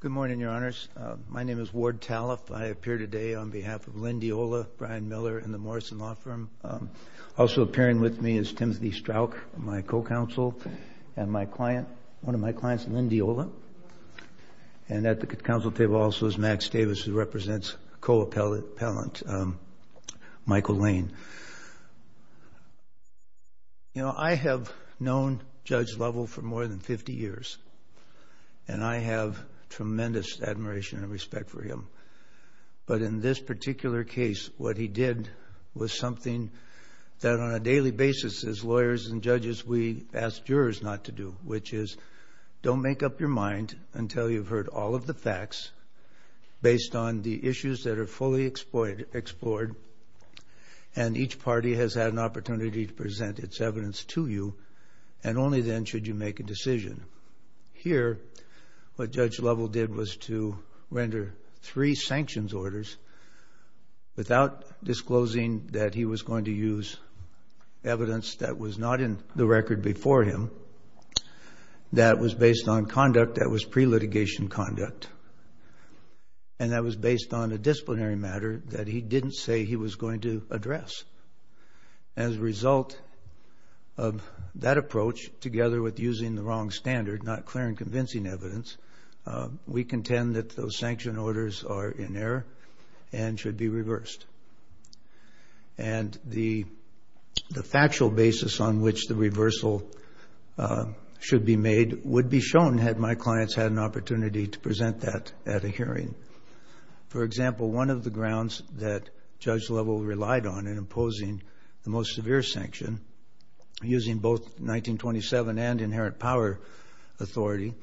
Good morning, Your Honors. My name is Ward Talliff. I appear today on behalf of Lynn Diola, Brian Miller, and the Morrison Law Firm. Also appearing with me is Timothy Strauch, my co-counsel, and my client, one of my clients, Lynn Diola. And at the counsel table also is Max Davis, who represents co-appellant Michael Lane. You know, I have known Judge Lovell for more than 50 years. And I have tremendous admiration and respect for him. But in this particular case, what he did was something that on a daily basis as lawyers and judges, we ask jurors not to do, which is, don't make up your mind until you've heard all of the facts based on the issues that are fully explored. And each party has had an opportunity to present its evidence to you. And only then should you make a decision. Here, what Judge Lovell did was to render three sanctions orders without disclosing that he was going to use evidence that was not in the record before him, that was based on conduct that was pre-litigation conduct, and that was based on a disciplinary matter that he didn't say he was going to address. As a result of that approach, together with using the wrong standard, not clear and convincing evidence, we contend that those sanction orders are in error and should be reversed. And the factual basis on which the reversal should be made would be shown had my clients had an opportunity to present that at a hearing. For example, one of the grounds that Judge Lovell relied on in imposing the most severe sanction, using both 1927 and inherent power authority,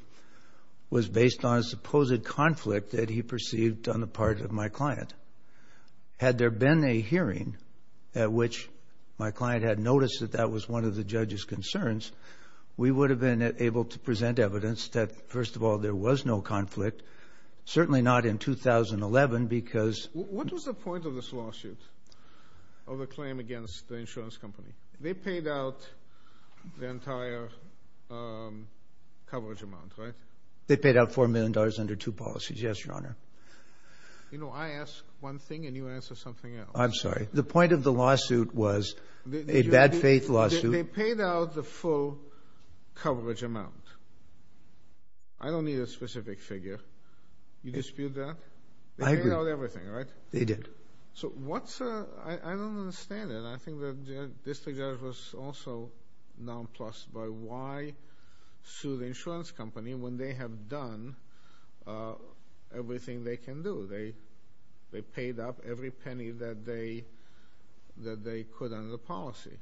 was based on a supposed conflict that he perceived on the part of my client. Had there been a hearing at which my client had noticed that that was one of the judge's concerns, we would have been able to present evidence that, first of all, there was no conflict, certainly not in 2011, because- Of a claim against the insurance company. They paid out the entire coverage amount, right? They paid out $4 million under two policies, yes, Your Honor. You know, I ask one thing, and you answer something else. I'm sorry. The point of the lawsuit was a bad faith lawsuit. They paid out the full coverage amount. I don't need a specific figure. You dispute that? I agree. They paid out everything, right? They did. So what's- I don't understand it. I think that this was also nonplussed by why sue the insurance company when they have done everything they can do. They paid up every penny that they could under the policy.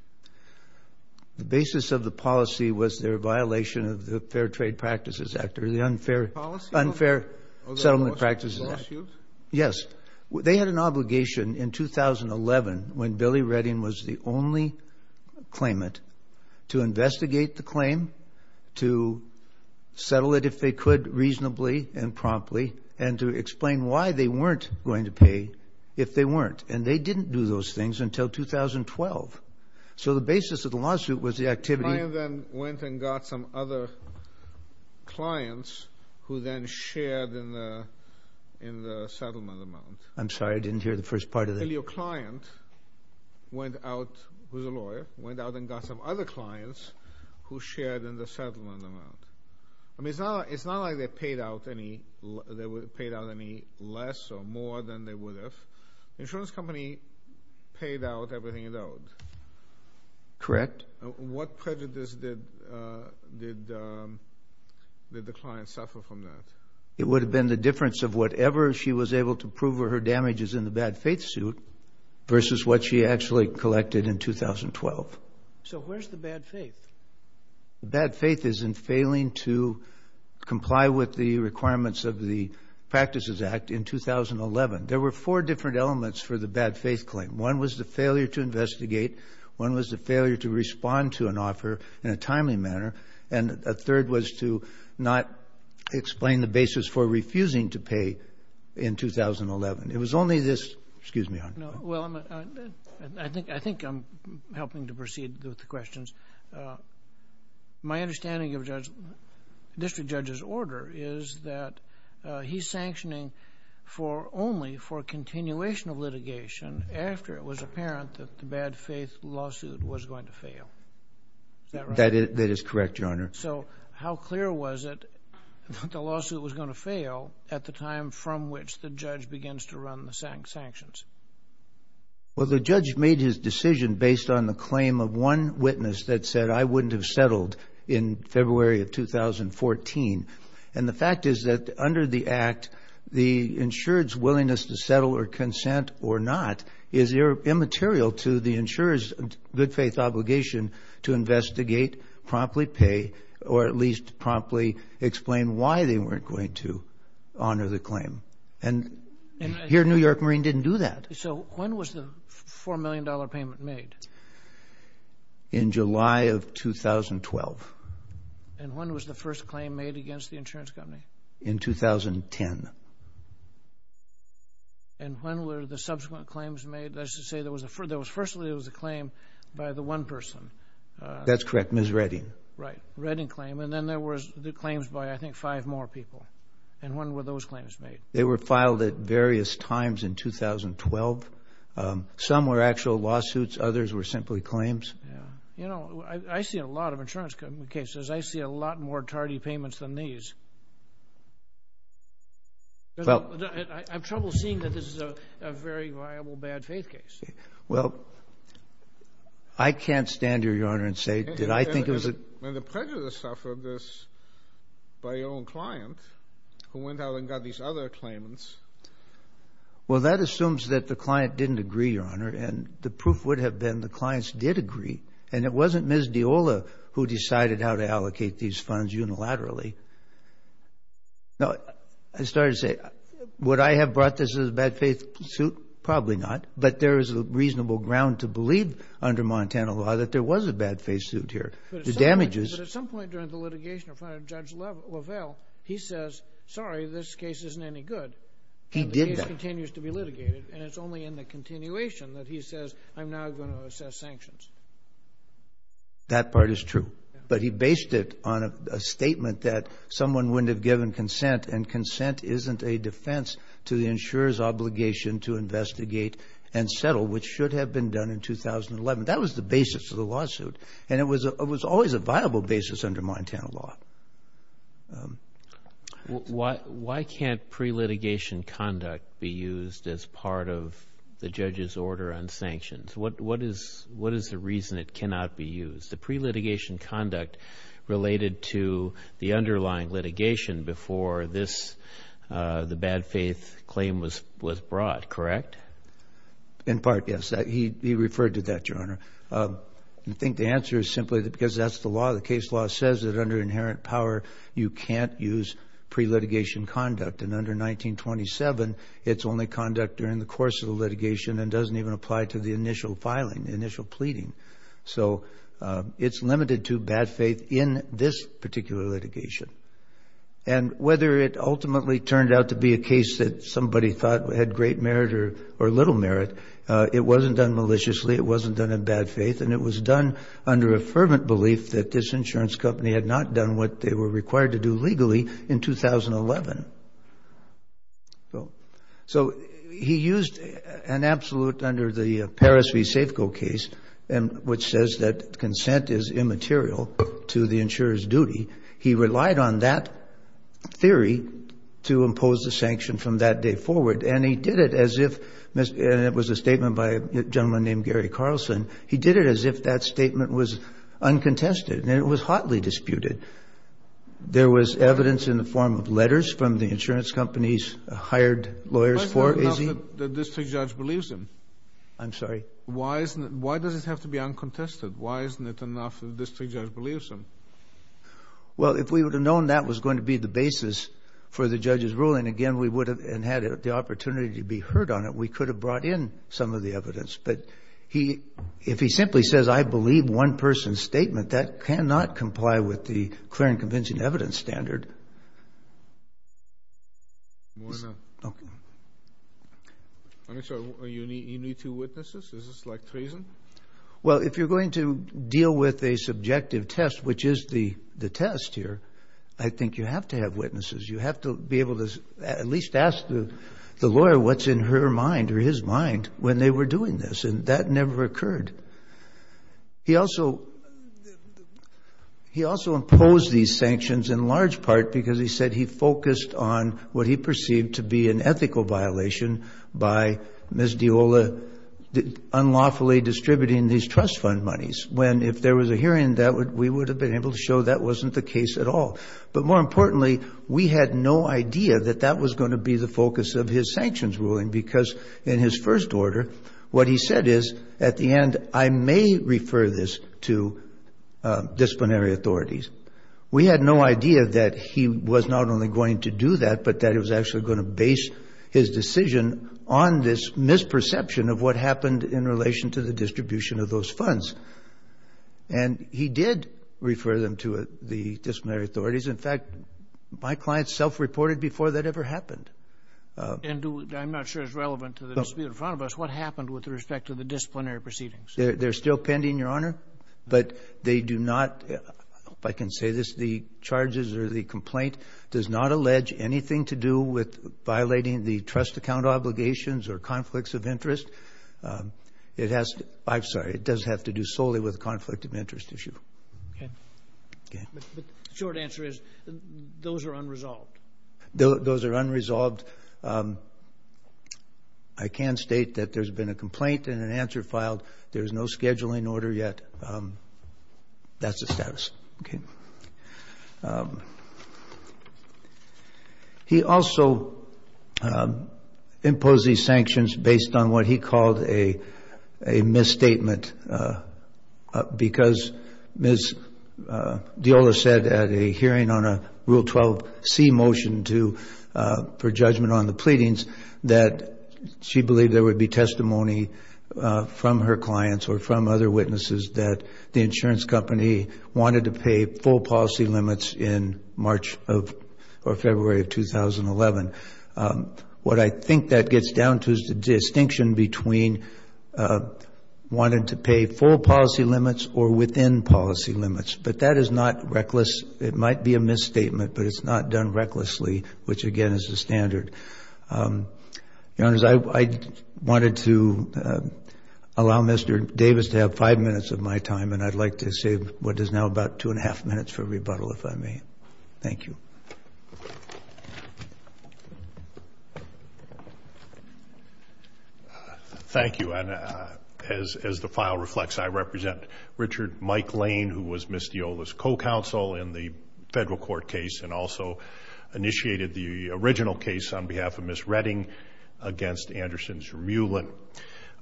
The basis of the policy was their violation of the Fair Trade Practices Act, or the Unfair Settlement Practices Act. Yes. They had an obligation in 2011, when Billy Redding was the only claimant, to investigate the claim, to settle it if they could reasonably and promptly, and to explain why they weren't going to pay if they weren't. And they didn't do those things until 2012. So the basis of the lawsuit was the activity- The client then went and got some other clients who then shared in the settlement amount. I'm sorry, I didn't hear the first part of that. So your client went out, who's a lawyer, went out and got some other clients who shared in the settlement amount. I mean, it's not like they paid out any less or more than they would have. Insurance company paid out everything it owed. Correct. What prejudice did the client suffer from that? It would have been the difference of whatever she was able to prove her damages in the bad faith suit, versus what she actually collected in 2012. So where's the bad faith? Bad faith is in failing to comply with the requirements of the Practices Act in 2011. There were four different elements for the bad faith claim. One was the failure to investigate. One was the failure to respond to an offer in a timely manner. And a third was to not explain the basis for refusing to pay in 2011. It was only this- Excuse me. Well, I think I'm helping to proceed with the questions. My understanding of District Judge's order is that he's sanctioning only for continuation of litigation after it was apparent that the bad faith lawsuit was going to fail. Is that right? That is correct, Your Honor. So how clear was it that the lawsuit was going to fail at the time from which the judge begins to run the sanctions? Well, the judge made his decision based on the claim of one witness that said, I wouldn't have settled in February of 2014. And the fact is that under the act, the insured's willingness to settle or consent or not is immaterial to the insurer's good faith obligation to investigate, promptly pay, or at least promptly explain why they weren't going to honor the claim. And here New York Marine didn't do that. So when was the $4 million payment made? In July of 2012. And when was the first claim made against the insurance company? In 2010. And when were the subsequent claims made? That's to say, firstly, it was a claim by the one person. That's correct, Ms. Redding. Right, Redding claim. And then there was the claims by, I think, five more people. And when were those claims made? They were filed at various times in 2012. Some were actual lawsuits, others were simply claims. You know, I see a lot of insurance cases. I see a lot more tardy payments than these. I have trouble seeing that this is a very viable bad faith case. Well, I can't stand here, Your Honor, and say, did I think it was a... And the prejudice suffered this by your own client who went out and got these other claimants. Well, that assumes that the client didn't agree, Your Honor. And the proof would have been the clients did agree. And it wasn't Ms. Diola who decided how to allocate these funds unilaterally. Now, I started to say, would I have brought this as a bad faith suit? Probably not. But there is a reasonable ground to believe under Montana law that there was a bad faith suit here. But at some point during the litigation in front of Judge LaValle, he says, sorry, this case isn't any good. He did that. And the case continues to be litigated. And it's only in the continuation that he says, I'm now going to assess sanctions. That part is true. But he based it on a statement that someone wouldn't have given consent. And consent isn't a defense to the insurer's obligation to investigate and settle, which should have been done in 2011. That was the basis of the lawsuit. And it was always a viable basis under Montana law. Why can't pre-litigation conduct be used as part of the judge's order on sanctions? What is the reason it cannot be used? It's the pre-litigation conduct related to the underlying litigation before this, the bad faith claim was brought, correct? In part, yes. He referred to that, Your Honor. I think the answer is simply because that's the law. The case law says that under inherent power, you can't use pre-litigation conduct. And under 1927, it's only conduct during the course of the litigation and doesn't even apply to the initial filing, the initial pleading. So it's limited to bad faith in this particular litigation. And whether it ultimately turned out to be a case that somebody thought had great merit or little merit, it wasn't done maliciously. It wasn't done in bad faith. And it was done under a fervent belief that this insurance company had not done what they were required to do legally in 2011. So he used an absolute under the Paris v. Safeco case which says that consent is immaterial to the insurer's duty. He relied on that theory to impose the sanction from that day forward. And he did it as if, and it was a statement by a gentleman named Gary Carlson, he did it as if that statement was uncontested and it was hotly disputed. There was evidence in the form of letters from the insurance companies hired lawyers for, is he? The district judge believes him. I'm sorry? Why does it have to be uncontested? Why isn't it enough that the district judge believes him? Well, if we would have known that was going to be the basis for the judge's ruling, again, we would have, and had the opportunity to be heard on it, we could have brought in some of the evidence. But if he simply says, I believe one person's statement, that cannot comply with the clear and convincing evidence standard. More than that. Okay. I'm sorry, you need two witnesses? Is this like treason? Well, if you're going to deal with a subjective test, which is the test here, I think you have to have witnesses. You have to be able to at least ask the lawyer what's in her mind or his mind when they were doing this. And that never occurred. He also imposed these sanctions in large part because he said he focused on what he perceived to be an ethical violation by Ms. Deola unlawfully distributing these trust fund monies. When if there was a hearing, that we would have been able to show that wasn't the case at all. But more importantly, we had no idea that that was going to be the focus of his sanctions ruling because in his first order, what he said is, at the end, I may refer this to disciplinary authorities. We had no idea that he was not only going to do that, but that he was actually going to base his decision on this misperception of what happened in relation to the distribution of those funds. And he did refer them to the disciplinary authorities. In fact, my client self-reported before that ever happened. I'm not sure it's relevant to the dispute in front of us. What happened with respect to the disciplinary proceedings? They're still pending, Your Honor, but they do not, if I can say this, the charges or the complaint does not allege anything to do with violating the trust account obligations or conflicts of interest. It has, I'm sorry, it does have to do solely with conflict of interest issue. Okay. Okay. But the short answer is, those are unresolved. Those are unresolved. I can state that there's been a complaint and an answer filed. There's no scheduling order yet. That's the status, okay. He also imposed these sanctions based on what he called a misstatement because Ms. Deola said at a hearing on a Rule 12c motion for judgment on the pleadings, that she believed there would be testimony from her clients or from other witnesses that the insurance company wanted to pay full policy limits in March or February of 2011. What I think that gets down to is the distinction between wanting to pay full policy limits or within policy limits. But that is not reckless. It might be a misstatement, but it's not done recklessly, which again is the standard. Your Honors, I wanted to allow Mr. Davis to have five minutes of my time, and I'd like to save what is now about two and a half minutes for rebuttal, if I may. Thank you. Thank you. And as the file reflects, I represent Richard Mike Lane, who was Ms. Deola's co-counsel in the federal court case and also initiated the original case on behalf of Ms. Redding against Anderson's Remulant.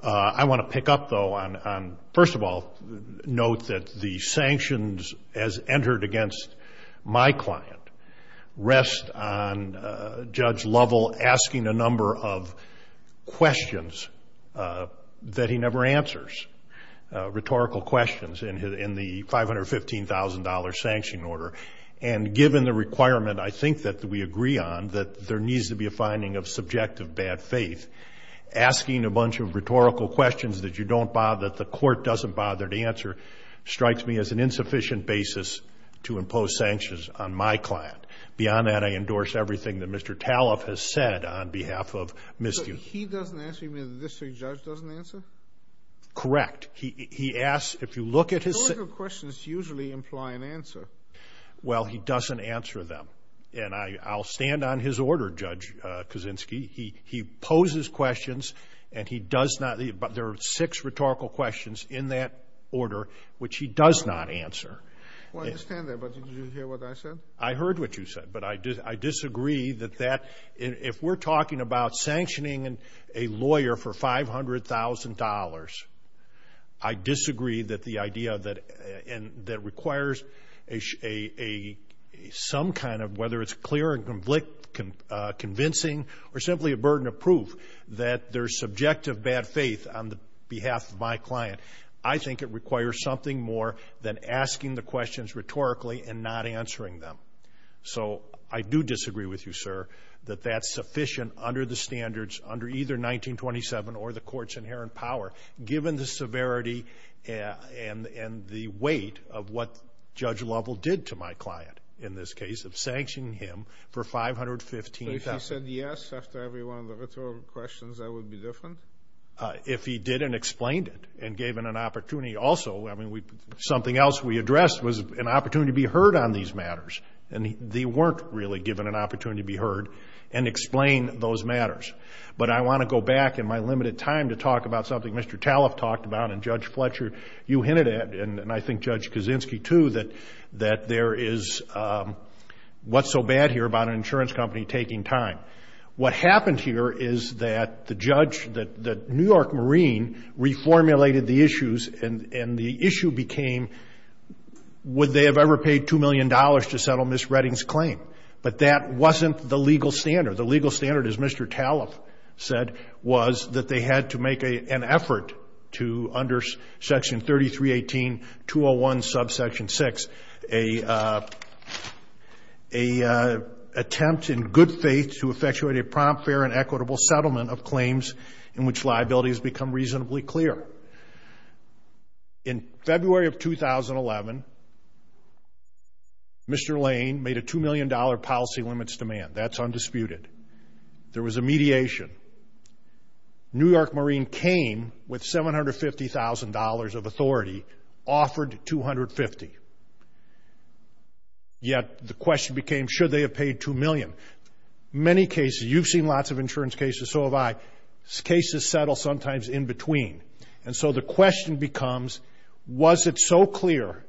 I want to pick up though on, first of all, note that the sanctions as entered against my client rest on Judge Lovell asking a number of questions that he never answers, rhetorical questions in the $515,000 sanction order. And given the requirement, I think that we agree on, that there needs to be a finding of subjective bad faith, asking a bunch of rhetorical questions that you don't bother, that the court doesn't bother to answer, strikes me as an insufficient basis to impose sanctions on my client. Beyond that, I endorse everything that Mr. Taloff has said on behalf of Ms. Deola. He doesn't answer, you mean the district judge doesn't answer? Correct. He asks, if you look at his- Rhetorical questions usually imply an answer. Well, he doesn't answer them. And I'll stand on his order, Judge Kuczynski. He poses questions and he does not, there are six rhetorical questions in that order, which he does not answer. Well, I understand that, but did you hear what I said? I heard what you said, but I disagree that that, if we're talking about sanctioning a lawyer for $500,000, I disagree that the idea that requires some kind of, whether it's clear and convincing, or simply a burden of proof, that there's subjective bad faith on behalf of my client. I think it requires something more than asking the questions rhetorically and not answering them. So I do disagree with you, sir, that that's sufficient under the standards under either 1927 or the court's inherent power, given the severity and the weight of what Judge Lovell did to my client in this case of sanctioning him for $515,000. If he said yes, after every one of the rhetorical questions, I would be different? If he did and explained it and gave it an opportunity. Also, I mean, something else we addressed was an opportunity to be heard on these matters. And they weren't really given an opportunity to be heard and explain those matters. But I want to go back in my limited time to talk about something Mr. Taloff talked about and Judge Fletcher, you hinted at, and I think Judge Kuczynski too, that there is what's so bad here about an insurance company taking time. What happened here is that the judge, the New York Marine reformulated the issues and the issue became, would they have ever paid $2 million to settle Ms. Redding's claim? But that wasn't the legal standard. The legal standard, as Mr. Taloff said, was that they had to make an effort to under section 3318, 201 subsection six, attempt in good faith to effectuate a prompt, fair, and equitable settlement of claims in which liability has become reasonably clear. In February of 2011, Mr. Lane made a $2 million policy limits demand. That's undisputed. There was a mediation. New York Marine came with $750,000 of authority, offered 250. Yet the question became, should they have paid $2 million? Many cases, you've seen lots of insurance cases, so have I, cases settle sometimes in between. And so the question becomes, was it so clear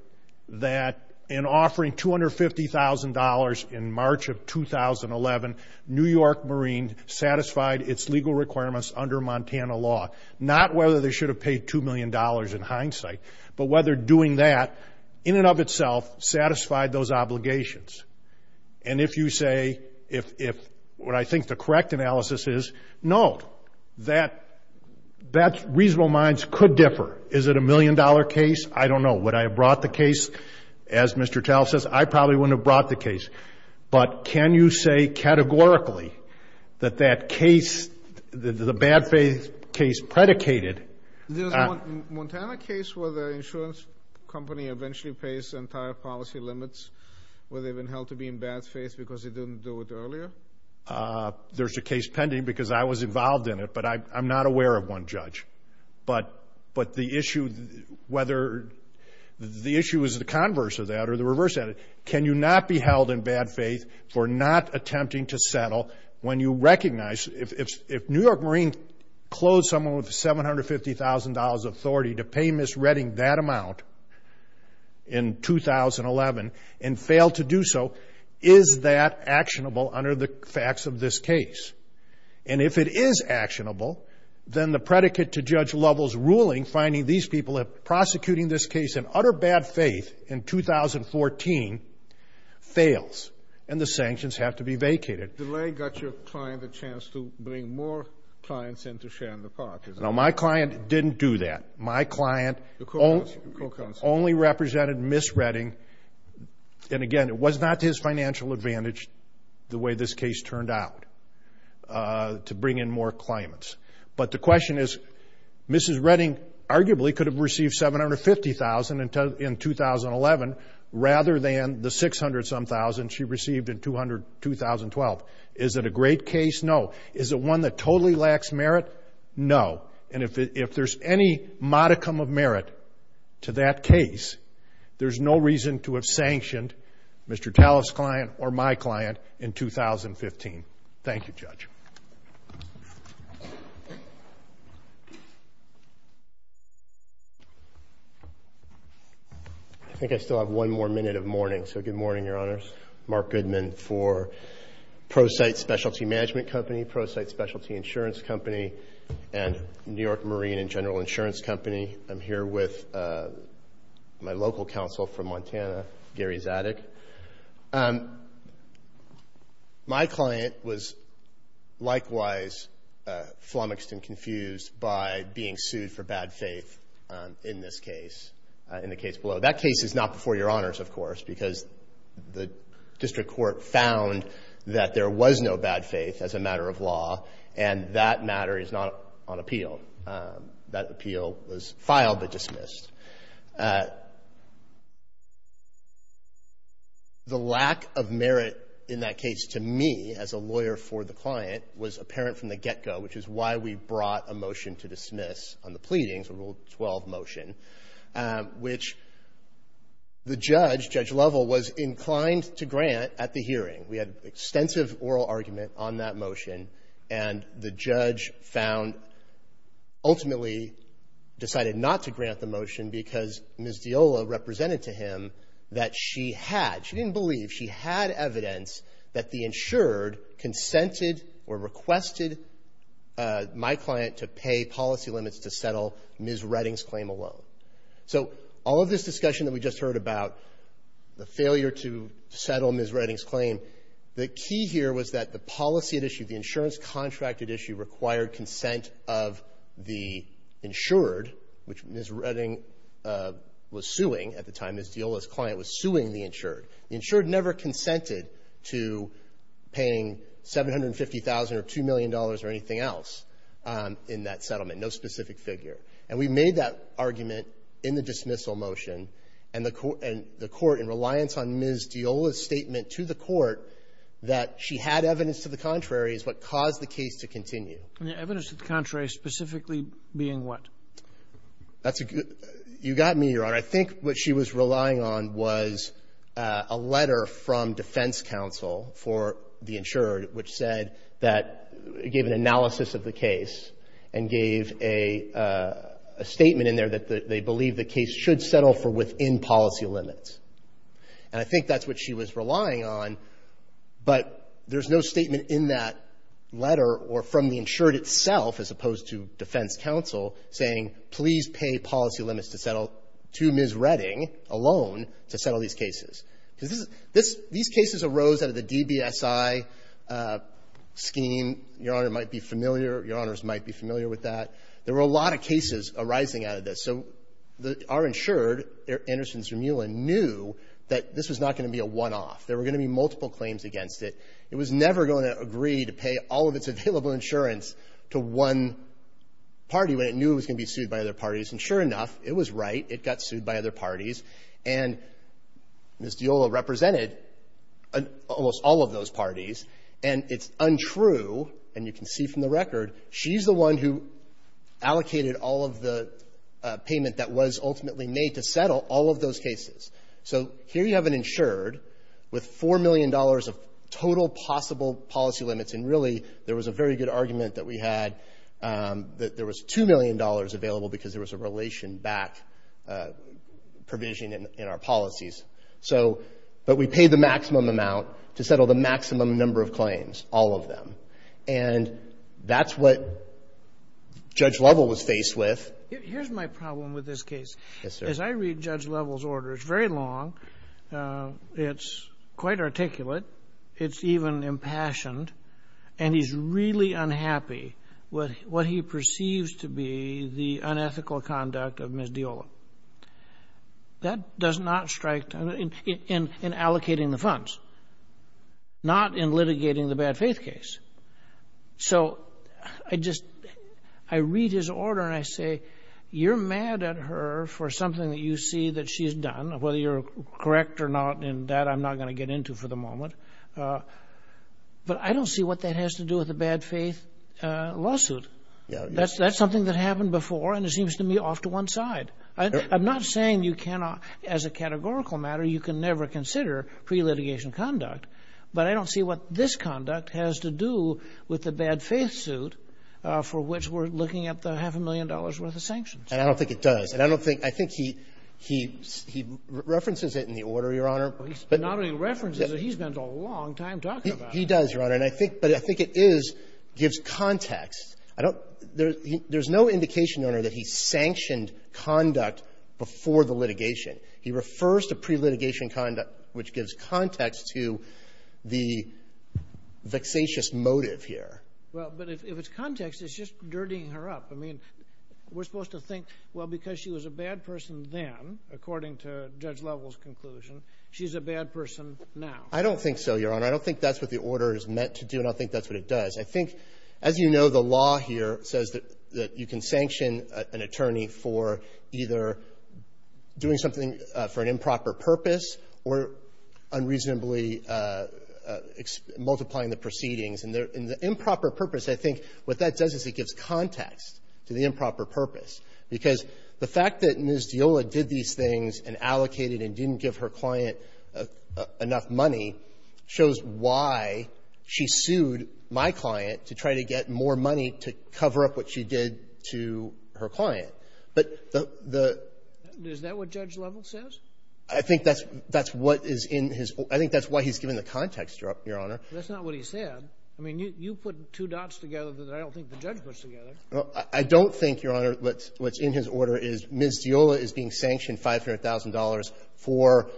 that in offering $250,000 in March of 2011, New York Marine satisfied its legal requirements under Montana law? Not whether they should have paid $2 million in hindsight, but whether doing that, in and of itself, satisfied those obligations. And if you say, if what I think the correct analysis is, no, that's reasonable minds could differ. Is it a million dollar case? I don't know. Would I have brought the case, as Mr. Tal says, I probably wouldn't have brought the case. But can you say categorically that that case, the bad faith case predicated. There's a Montana case where the insurance company eventually pays entire policy limits where they've been held to be in bad faith because they didn't do it earlier. There's a case pending because I was involved in it, but I'm not aware of one judge. But the issue, whether the issue is the converse of that or the reverse of that, can you not be held in bad faith for not attempting to settle when you recognize, if New York Marine closed someone with $750,000 authority to pay Ms. Redding that amount in 2011 and failed to do so, is that actionable under the facts of this case? And if it is actionable, then the predicate to Judge Lovell's ruling finding these people prosecuting this case in utter bad faith in 2014 fails and the sanctions have to be vacated. Delay got your client a chance to bring more clients into Sharon Park. No, my client didn't do that. My client only represented Ms. Redding. And again, it was not to his financial advantage the way this case turned out to bring in more clients. But the question is, Mrs. Redding arguably could have received $750,000 in 2011 rather than the $600,000 she received in 2012. Is it a great case? No. Is it one that totally lacks merit? No. And if there's any modicum of merit to that case, there's no reason to have sanctioned Mr. Talliff's client or my client in 2015. Thank you, Judge. I think I still have one more minute of morning. So good morning, Your Honors. Mark Goodman for Prosite Specialty Management Company, Prosite Specialty Insurance Company, and New York Marine and General Insurance Company. I'm here with my local counsel from Montana, Gary Zadig. My client was likewise flummoxed and confused by being sued for bad faith in this case, in the case below. That case is not before Your Honors, of course, because the district court found that there was no bad faith as a matter of law. And that matter is not on appeal. That appeal was filed but dismissed. The lack of merit in that case to me as a lawyer for the client was apparent from the get-go, which is why we brought a motion to dismiss on the pleadings, a Rule 12 motion, which the judge, Judge Lovell, was inclined to grant at the hearing. We had extensive oral argument on that motion, and the judge ultimately decided not to grant the motion because Ms. Diola represented to him that she had, she didn't believe, she had evidence that the insured consented or requested my client to pay policy limits to settle Ms. Redding's claim alone. So all of this discussion that we just heard about, the failure to settle Ms. Redding's claim, the key here was that the policy at issue, the insurance contracted issue, required consent of the insured, which Ms. Redding was suing at the time. Ms. Diola's client was suing the insured. The insured never consented to paying $750,000 or $2 million or anything else in that settlement, no specific figure. And we made that argument in the dismissal motion, and the court, in reliance on Ms. Diola's statement to the court that she had evidence to the contrary is what caused the case to continue. And the evidence to the contrary specifically being what? That's a good, you got me, Your Honor. I think what she was relying on was a letter from defense counsel for the insured, which said that, gave an analysis of the case, and gave a statement in there that they believe the case should settle for within policy limits. And I think that's what she was relying on, but there's no statement in that letter or from the insured itself, as opposed to defense counsel, saying, please pay policy limits to settle, to Ms. Redding alone, to settle these cases. Because these cases arose out of the DBSI scheme. Your Honor might be familiar, Your Honors might be familiar with that. There were a lot of cases arising out of this. So our insured, Anderson Zermulin, knew that this was not gonna be a one-off. There were gonna be multiple claims against it. It was never gonna agree to pay all of its available insurance to one party when it knew it was gonna be sued by other parties. And sure enough, it was right. It got sued by other parties. And Ms. Diola represented almost all of those parties. And it's untrue, and you can see from the record, she's the one who allocated all of the payment that was ultimately made to settle all of those cases. So here you have an insured with $4 million of total possible policy limits. And really, there was a very good argument that we had, that there was $2 million available because there was a relation back provision in our policies. So, but we paid the maximum amount to settle the maximum number of claims, all of them. And that's what Judge Lovell was faced with. Here's my problem with this case. Yes, sir. As I read Judge Lovell's orders, very long, it's quite articulate, it's even impassioned, and he's really unhappy with what he perceives to be the unethical conduct of Ms. Diola. That does not strike, in allocating the funds, not in litigating the bad faith case. So I just, I read his order and I say, you're mad at her for something that you see that she's done, whether you're correct or not, and that I'm not gonna get into for the moment. But I don't see what that has to do with the bad faith lawsuit. That's something that happened before, and it seems to me off to one side. I'm not saying you cannot, as a categorical matter, you can never consider pre-litigation conduct, but I don't see what this conduct has to do with the bad faith suit for which we're looking at the half a million dollars worth of sanctions. And I don't think it does. And I don't think, I think he references it in the order, Your Honor. Not only references it, he spends a long time talking about it. He does, Your Honor, and I think, but I think it is, gives context. I don't, there's no indication, Your Honor, that he sanctioned conduct before the litigation. He refers to pre-litigation conduct, which gives context to the vexatious motive here. Well, but if it's context, it's just dirtying her up. I mean, we're supposed to think, well, because she was a bad person then, according to Judge Lovell's conclusion, she's a bad person now. I don't think so, Your Honor. I don't think that's what the order is meant to do, and I don't think that's what it does. I think, as you know, the law here says that you can sanction an attorney for either doing something for an improper purpose or unreasonably multiplying the proceedings. And the improper purpose, I think, what that does is it gives context to the improper purpose. Because the fact that Ms. Diola did these things and allocated and didn't give her client enough money shows why she sued my client to try to get more money to cover up what she did to her client. But the the... Is that what Judge Lovell says? I think that's what is in his, I think that's why he's given the context, Your Honor. That's not what he said. I mean, you put two dots together that I don't think the judge puts together. I don't think, Your Honor, what's in his order is Ms. Diola is being sanctioned $500,000 for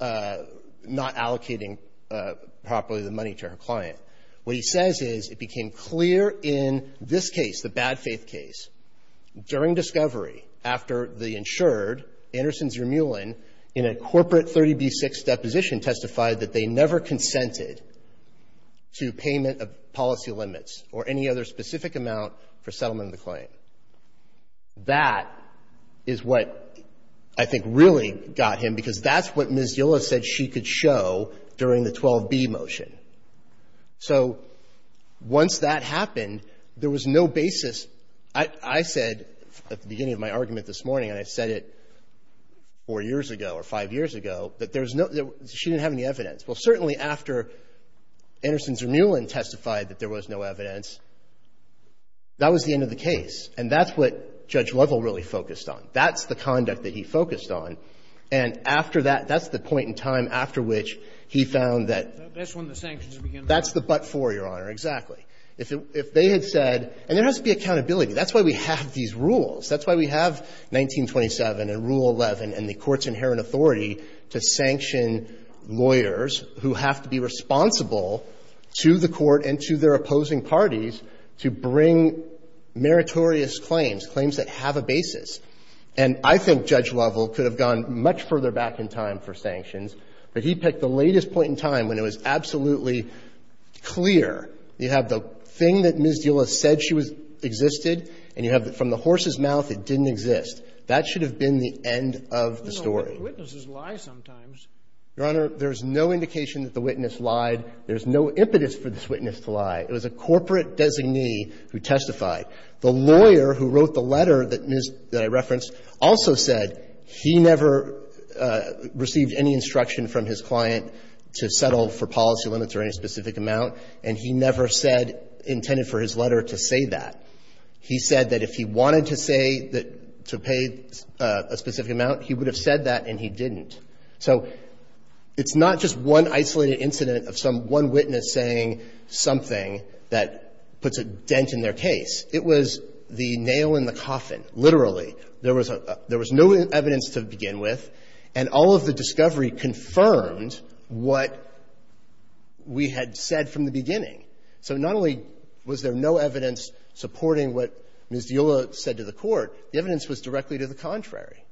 not allocating properly the money to her client. What he says is it became clear in this case, the bad faith case, during discovery, after the insured, Anderson Zermulin, in a corporate 30b-6 deposition testified that they never consented to payment of policy limits or any other specific amount for settlement of the claim. That is what I think really got him, because that's what Ms. Diola said she could show during the 12b motion. So once that happened, there was no basis. I said at the beginning of my argument this morning, and I said it four years ago or five years ago, that there was no, she didn't have any evidence. Well, certainly after Anderson Zermulin testified that there was no evidence, that was the end of the case. And that's what Judge Lovell really focused on. That's the conduct that he focused on. And after that, that's the point in time after which he found that... That's the but for, Your Honor, exactly. If they had said, and there has to be accountability. That's why we have these rules. That's why we have 1927 and Rule 11 and the Court's inherent authority to sanction lawyers who have to be responsible to the Court and to their opposing parties to bring meritorious claims, claims that have a basis. And I think Judge Lovell could have gone much further back in time for sanctions, but he picked the latest point in time when it was absolutely clear. You have the thing that Ms. Dula said she existed, and you have from the horse's mouth it didn't exist. That should have been the end of the story. But witnesses lie sometimes. Your Honor, there's no indication that the witness lied. There's no impetus for this witness to lie. It was a corporate designee who testified. The lawyer who wrote the letter that I referenced also said he never received any instruction from his client to settle for policy limits or any specific amount, and he never said intended for his letter to say that. He said that if he wanted to say that to pay a specific amount, he would have said that, and he didn't. So it's not just one isolated incident of some one witness saying something that puts a dent in their case. It was the nail in the coffin, literally. There was no evidence to begin with, and all of the discovery confirmed what we had said from the beginning. So not only was there no evidence supporting what Ms. Dula said to the Court, the evidence was directly to the contrary.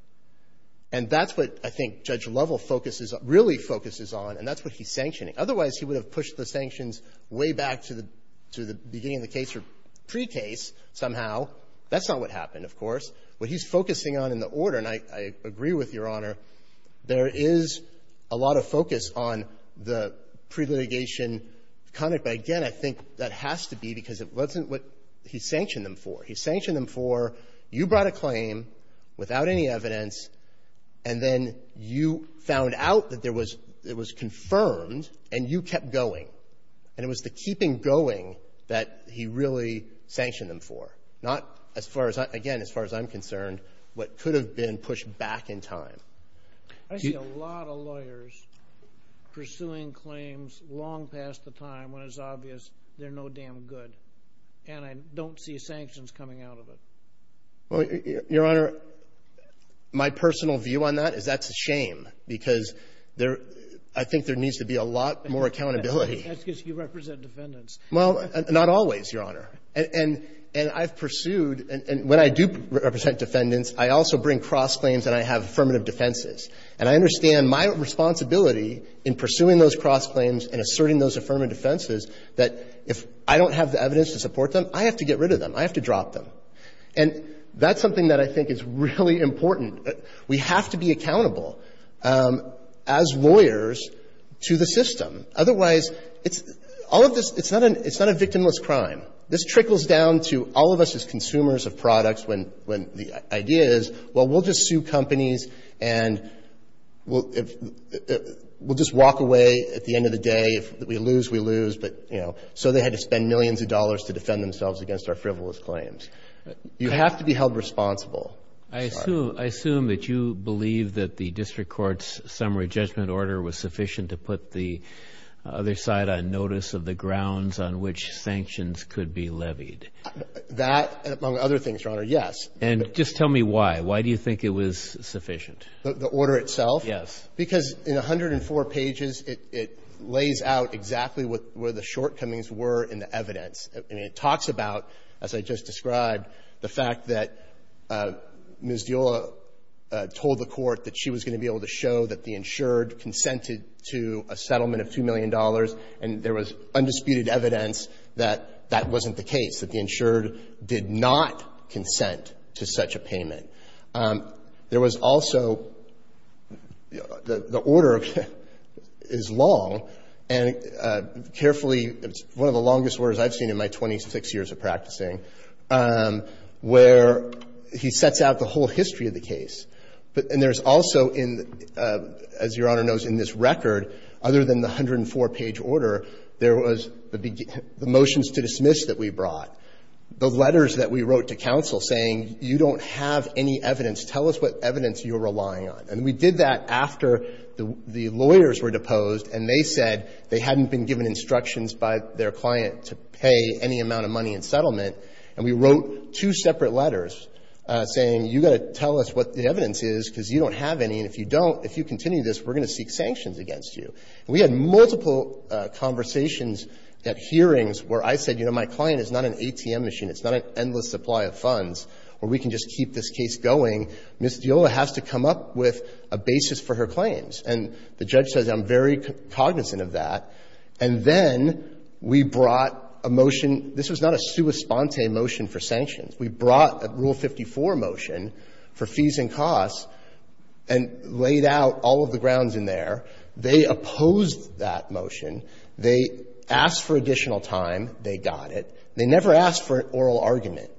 And that's what I think Judge Lovell focuses on, really focuses on, and that's what he's sanctioning. Otherwise, he would have pushed the sanctions way back to the beginning of the case or pre-case somehow. That's not what happened, of course. What he's focusing on in the order, and I agree with Your Honor, there is a lot of focus on the pre-litigation conduct. But again, I think that has to be because it wasn't what he sanctioned them for. He sanctioned them for you brought a claim without any evidence, and then you found out that there was – it was confirmed, and you kept going. And it was the keeping going that he really sanctioned them for, not as far as – again, as far as I'm concerned, what could have been pushed back in time. I see a lot of lawyers pursuing claims long past the time when it's obvious they're no damn good, and I don't see sanctions coming out of it. Well, Your Honor, my personal view on that is that's a shame because there – I think there needs to be a lot more accountability. That's because you represent defendants. Well, not always, Your Honor. And I've pursued – and when I do represent defendants, I also bring cross-claims and I have affirmative defenses. And I understand my responsibility in pursuing those cross-claims and asserting those affirmative defenses that if I don't have the evidence to support them, I have to get rid of them. I have to drop them. And that's something that I think is really important. We have to be accountable as lawyers to the system. Otherwise, it's – all of this – it's not a victimless crime. This trickles down to all of us as consumers of products when the idea is, well, we'll just sue companies and we'll – we'll just walk away at the end of the day. If we lose, we lose. But, you know, so they had to spend millions of dollars to defend themselves against our frivolous claims. You have to be held responsible. I assume – I assume that you believe that the district court's summary judgment order was sufficient to put the other side on notice of the grounds on which sanctions could be levied. That, among other things, Your Honor, yes. And just tell me why. Why do you think it was sufficient? The order itself? Yes. Because in 104 pages, it lays out exactly what – where the shortcomings were in the evidence. And it talks about, as I just described, the fact that Ms. Diola told the Court that she was going to be able to show that the insured consented to a settlement of $2 million, and there was undisputed evidence that that wasn't the case, that the insured did not consent to such a payment. There was also – the order is long, and carefully – it's one of the longest orders I've seen in my 26 years of practicing, where he sets out the whole history of the case. And there's also in – as Your Honor knows, in this record, other than the 104-page order, there was the motions to dismiss that we brought, the letters that we wrote to counsel saying, you don't have any evidence, tell us what evidence you're relying on. And we did that after the lawyers were deposed and they said they hadn't been given instructions by their client to pay any amount of money in settlement, and we wrote two separate letters saying, you've got to tell us what the evidence is, because you don't have any, and if you don't, if you continue this, we're going to seek out conversations at hearings where I said, you know, my client is not an ATM machine, it's not an endless supply of funds, or we can just keep this case going. Ms. Diola has to come up with a basis for her claims. And the judge says, I'm very cognizant of that. And then we brought a motion – this was not a sua sponte motion for sanctions. We brought a Rule 54 motion for fees and costs and laid out all of the grounds in there. They opposed that motion. They asked for additional time. They got it. They never asked for an oral argument.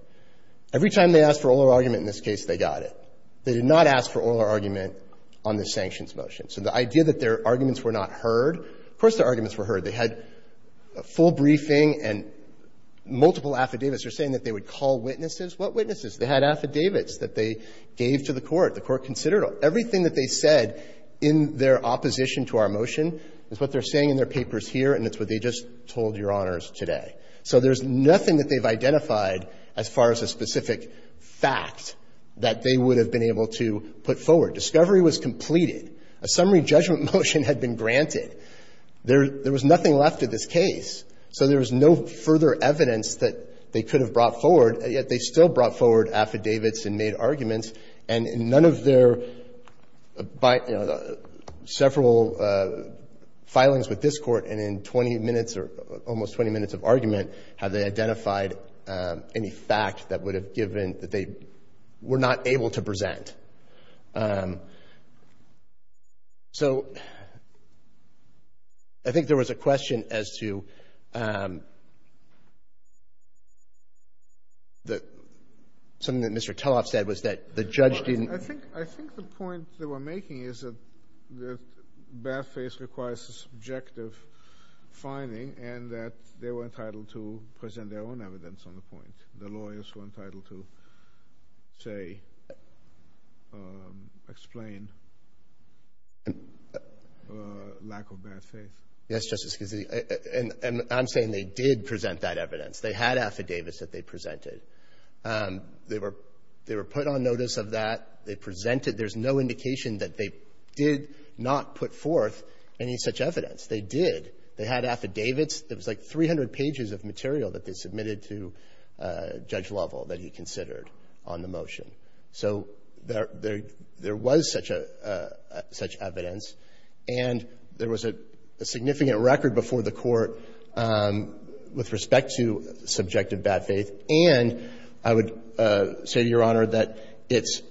Every time they asked for oral argument in this case, they got it. They did not ask for oral argument on the sanctions motion. So the idea that their arguments were not heard, of course their arguments were heard. They had a full briefing and multiple affidavits. They're saying that they would call witnesses. What witnesses? They had affidavits that they gave to the Court. The Court considered everything that they said in their opposition. And that's what they're saying in their papers here, and it's what they just told Your Honors today. So there's nothing that they've identified as far as a specific fact that they would have been able to put forward. Discovery was completed. A summary judgment motion had been granted. There was nothing left of this case. So there was no further evidence that they could have brought forward. Yet they still brought forward affidavits and made arguments. And in none of their several filings with this Court and in 20 minutes or almost 20 minutes of argument, have they identified any fact that would have given that they were not able to present. So I think there was a question as to something that Mr. Judge didn't. I think the point they were making is that bad faith requires a subjective finding, and that they were entitled to present their own evidence on the point. The lawyers were entitled to, say, explain lack of bad faith. Yes, Justice Gazzetti. And I'm saying they did present that evidence. They had affidavits that they presented. They were put on notice of that. They presented. There's no indication that they did not put forth any such evidence. They did. They had affidavits. It was like 300 pages of material that they submitted to Judge Lovell that he considered on the motion. So there was such evidence. And there was a significant record before the Court with respect to subjective bad faith. And I would say to Your Honor that it's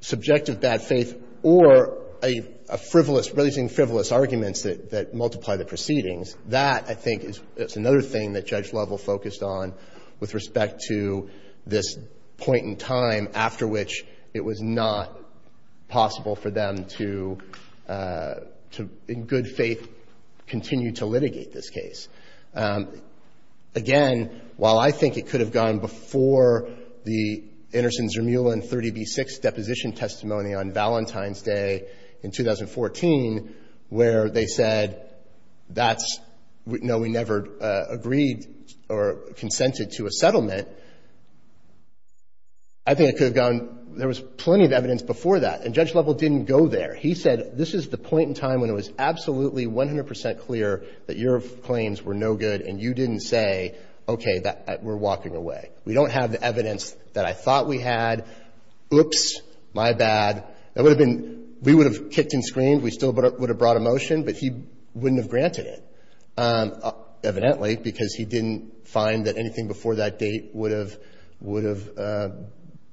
subjective bad faith or a frivolous, releasing frivolous arguments that multiply the proceedings. That, I think, is another thing that Judge Lovell focused on with respect to this point in time after which it was not possible for them to, in good faith, continue to litigate this case. Again, while I think it could have gone before the Intersen-Zermulin 30b-6 deposition testimony on Valentine's Day in 2014 where they said, that's, no, we never agreed or consented to a settlement, I think it could have gone, there was plenty of evidence before that. And Judge Lovell didn't go there. He said, this is the point in time when it was absolutely 100 percent clear that your claims were no good and you didn't say, okay, we're walking away. We don't have the evidence that I thought we had. Oops, my bad. That would have been, we would have kicked and screamed. We still would have brought a motion, but he wouldn't have granted it, evidently, because he didn't find that anything before that date would have, would have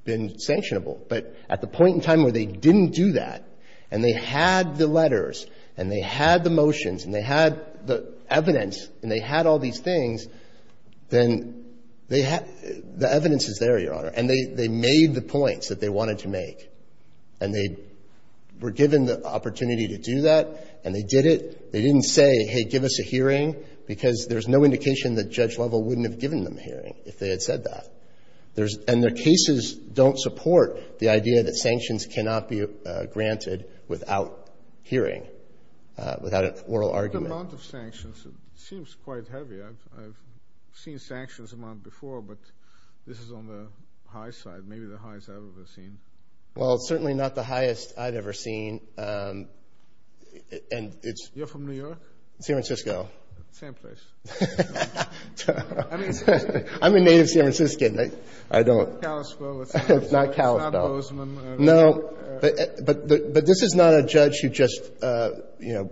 been sanctionable. But at the point in time where they didn't do that and they had the letters and they had the motions and they had the evidence and they had all these things, then they had, the evidence is there, Your Honor, and they, they made the points that they wanted to make. And they were given the opportunity to do that and they did it. They didn't say, hey, give us a hearing, because there's no indication that Judge Lovell wouldn't have given them a hearing if they had said that. There's, and their cases don't support the idea that sanctions cannot be granted without hearing, without oral argument. What amount of sanctions? It seems quite heavy. I've seen sanctions amount before, but this is on the high side, maybe the highest I've ever seen. Well, it's certainly not the highest I've ever seen, and it's... You're from New York? San Francisco. Same place. I'm a native San Franciscan. I don't... It's not Kalispell. It's not Kalispell. It's not Bozeman. No, but this is not a judge who just, you know,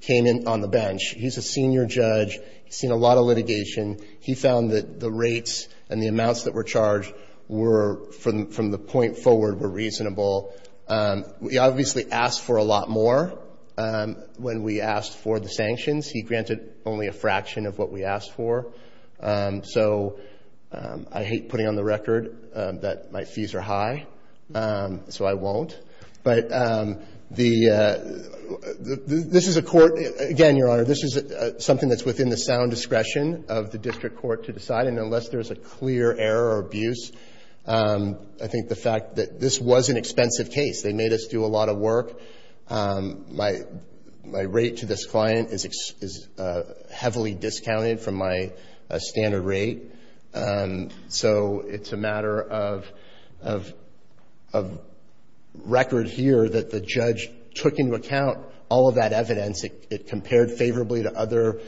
came in on the bench. He's a senior judge. He's seen a lot of litigation. He found that the rates and the amounts that were charged were, from the point forward, were reasonable. We obviously asked for a lot more when we asked for the sanctions. He granted only a fraction of what we asked for. So I hate putting on the record that my fees are high, so I won't. But the... This is a court... Again, Your Honor, this is something that's within the sound discretion of the district court to decide, and unless there's a clear error or abuse, I think the fact that this was an expensive case. They made us do a lot of work. My rate to this client is heavily discounted from my standard rate, so it's a matter of record here that the judge took into account all of that evidence. It compared favorably to other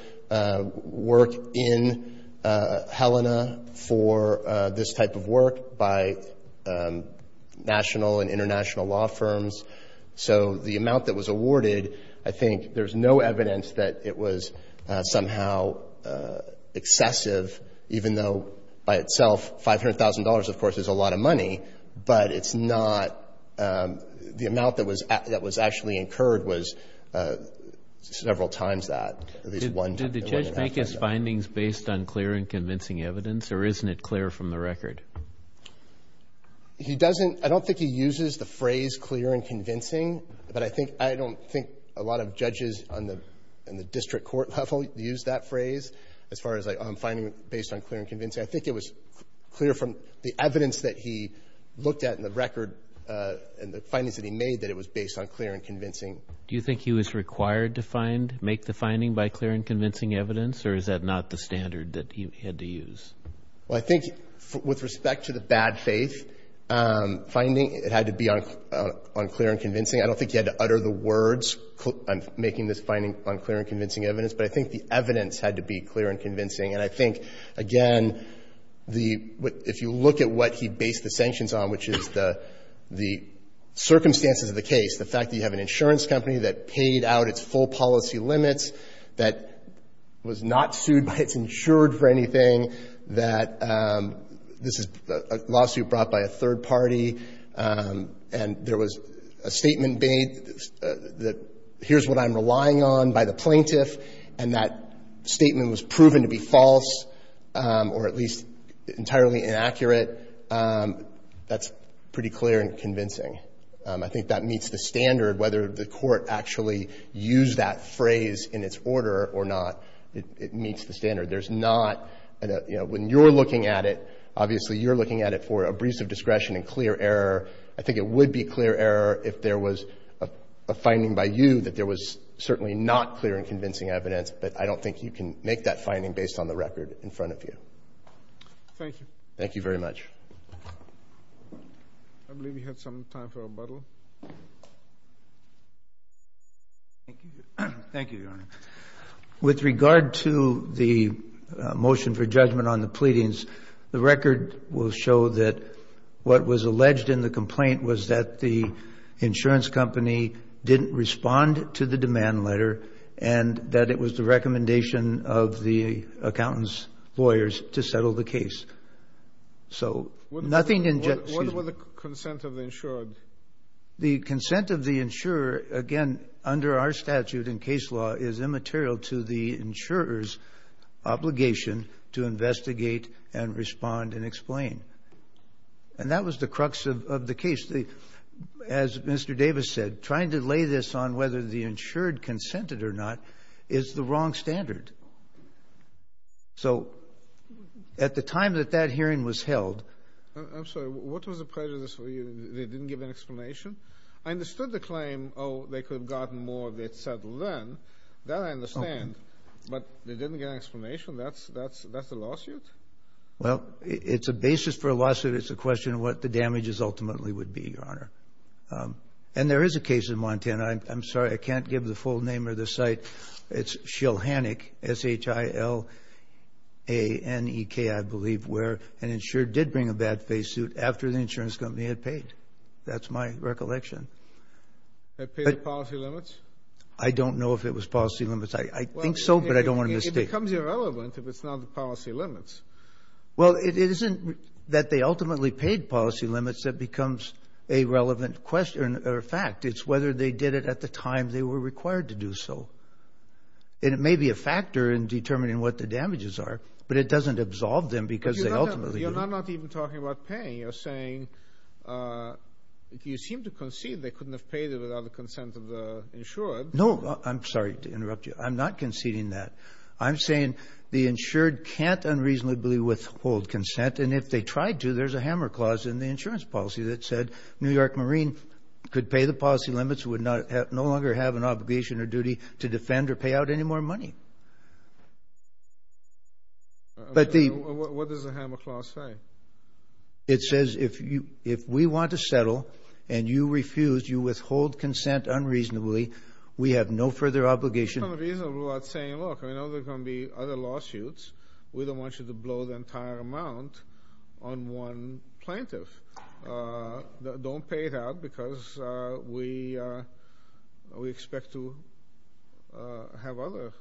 work in Helena for this type of work by national and international law firms. So the amount that was awarded, I think there's no evidence that it was somehow excessive, even though, by itself, $500,000, of course, is a lot of money. But it's not... The amount that was actually incurred was several times that, at least one... Did the judge make his findings based on clear and convincing evidence, or isn't it clear from the record? He doesn't... I don't think he uses the phrase clear and convincing, but I don't think a lot of judges on the district court level use that phrase, as far as finding it based on clear and convincing. I think it was clear from the evidence that he looked at in the record and the findings that he made that it was based on clear and convincing. Do you think he was required to make the finding by clear and convincing evidence, or is that not the standard that he had to use? Well, I think, with respect to the bad faith finding, it had to be on clear and convincing. I don't think he had to utter the words, making this finding on clear and convincing evidence. But I think the evidence had to be clear and convincing. And I think, again, the... If you look at what he based the sanctions on, which is the circumstances of the case, the fact that you have an insurance company that paid out its full that this is a lawsuit brought by a third party, and there was a statement made that, here's what I'm relying on by the plaintiff, and that statement was proven to be false, or at least entirely inaccurate, that's pretty clear and convincing. I think that meets the standard, whether the court actually used that phrase in its order or not, it meets the standard. There's not... When you're looking at it, obviously you're looking at it for a breeze of discretion and clear error. I think it would be clear error if there was a finding by you that there was certainly not clear and convincing evidence, but I don't think you can make that finding based on the record in front of you. Thank you. Thank you very much. I believe we have some time for rebuttal. Thank you, Your Honor. With regard to the motion for judgment on the pleadings, the record will show that what was alleged in the complaint was that the insurance company didn't respond to the demand letter, and that it was the recommendation of the accountant's lawyers to settle the case. So, nothing in... What about the consent of the insured? The consent of the insurer, again, under our statute in case law, is immaterial to the insurer's obligation to investigate and respond and explain. And that was the crux of the case. As Mr. Davis said, trying to lay this on whether the insured consented or not is the wrong standard. So, at the time that that hearing was held... I'm sorry, what was the prejudice for you? They didn't give an explanation? I understood the claim, oh, they could have gotten more if they had settled then. That I understand. But they didn't give an explanation? That's a lawsuit? Well, it's a basis for a lawsuit. It's a question of what the damages ultimately would be, Your Honor. And there is a case in Montana. I'm sorry, I can't give the full name of the site. It's Shilhannik, S-H-I-L-A-N-E-K, I believe, where an insured did bring a bad face suit after the insurance company had paid. That's my recollection. Had paid the policy limits? I don't know if it was policy limits. I think so, but I don't want to mistake. It becomes irrelevant if it's not the policy limits. Well, it isn't that they ultimately paid policy limits that becomes a relevant question or fact. It's whether they did it at the time they were required to do so. And it may be a factor in determining what the damages are, but it doesn't absolve them because they ultimately... Your Honor, I'm not even talking about paying. You're saying you seem to concede they couldn't have paid it without the consent of the insured. No, I'm sorry to interrupt you. I'm not conceding that. I'm saying the insured can't unreasonably withhold consent. And if they tried to, there's a hammer clause in the insurance policy that said New York Marine could pay the policy limits, would no longer have an obligation or duty to defend or pay out any more money. What does the hammer clause say? It says if we want to settle and you refuse, you withhold consent unreasonably, we have no further obligation. There's no reason we're not saying, look, I know there's going to be other lawsuits. We don't want you to blow the entire amount on one plaintiff. Don't pay it out because we expect to have other issues.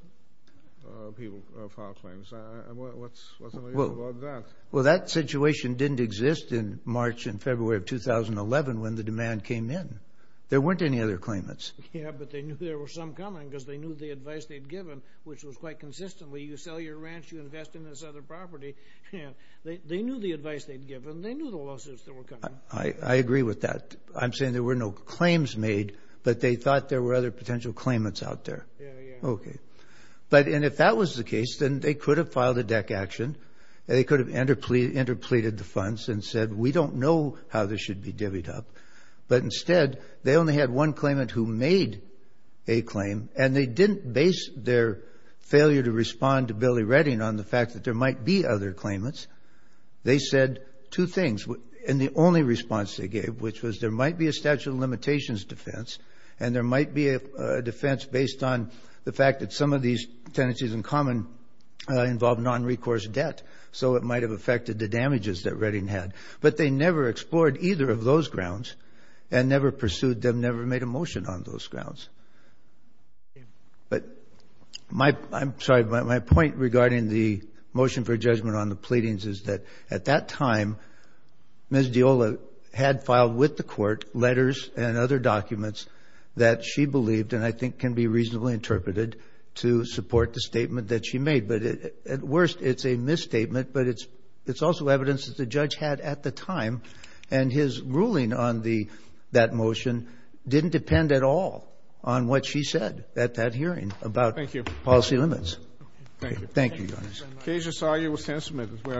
People file claims. What's your opinion about that? Well, that situation didn't exist in March and February of 2011 when the demand came in. There weren't any other claimants. Yeah, but they knew there were some coming because they knew the advice they'd given, which was quite consistently, you sell your ranch, you invest in this other property. They knew the advice they'd given. They knew the lawsuits that were coming. I agree with that. I'm saying there were no claims made, but they thought there were other potential claimants out there. Yeah, yeah. Okay. But if that was the case, then they could have filed a deck action. They could have interpleaded the funds and said, we don't know how this should be divvied up. But instead, they only had one claimant who made a claim, and they didn't base their failure to respond to Billy Redding on the fact that there might be other claimants. They said two things, and the only response they gave, which was there might be a statute of limitations defense, and there might be a defense based on the fact that some of these tenancies in common involve non-recourse debt, so it might have affected the damages that Redding had. But they never explored either of those grounds and never pursued them, never made a motion on those grounds. But my point regarding the motion for judgment on the pleadings is that at that time, Ms. Diola had filed with the court letters and other documents that she believed and I think can be reasonably interpreted to support the statement that she made. But at worst, it's a misstatement, but it's also evidence that the judge had at the time, and his ruling on that motion didn't depend at all on what she said at that hearing about policy limits. Thank you. Thank you, Your Honor. Thank you very much. Keisha Sawyer with Tenant Submitted. We are adjourned.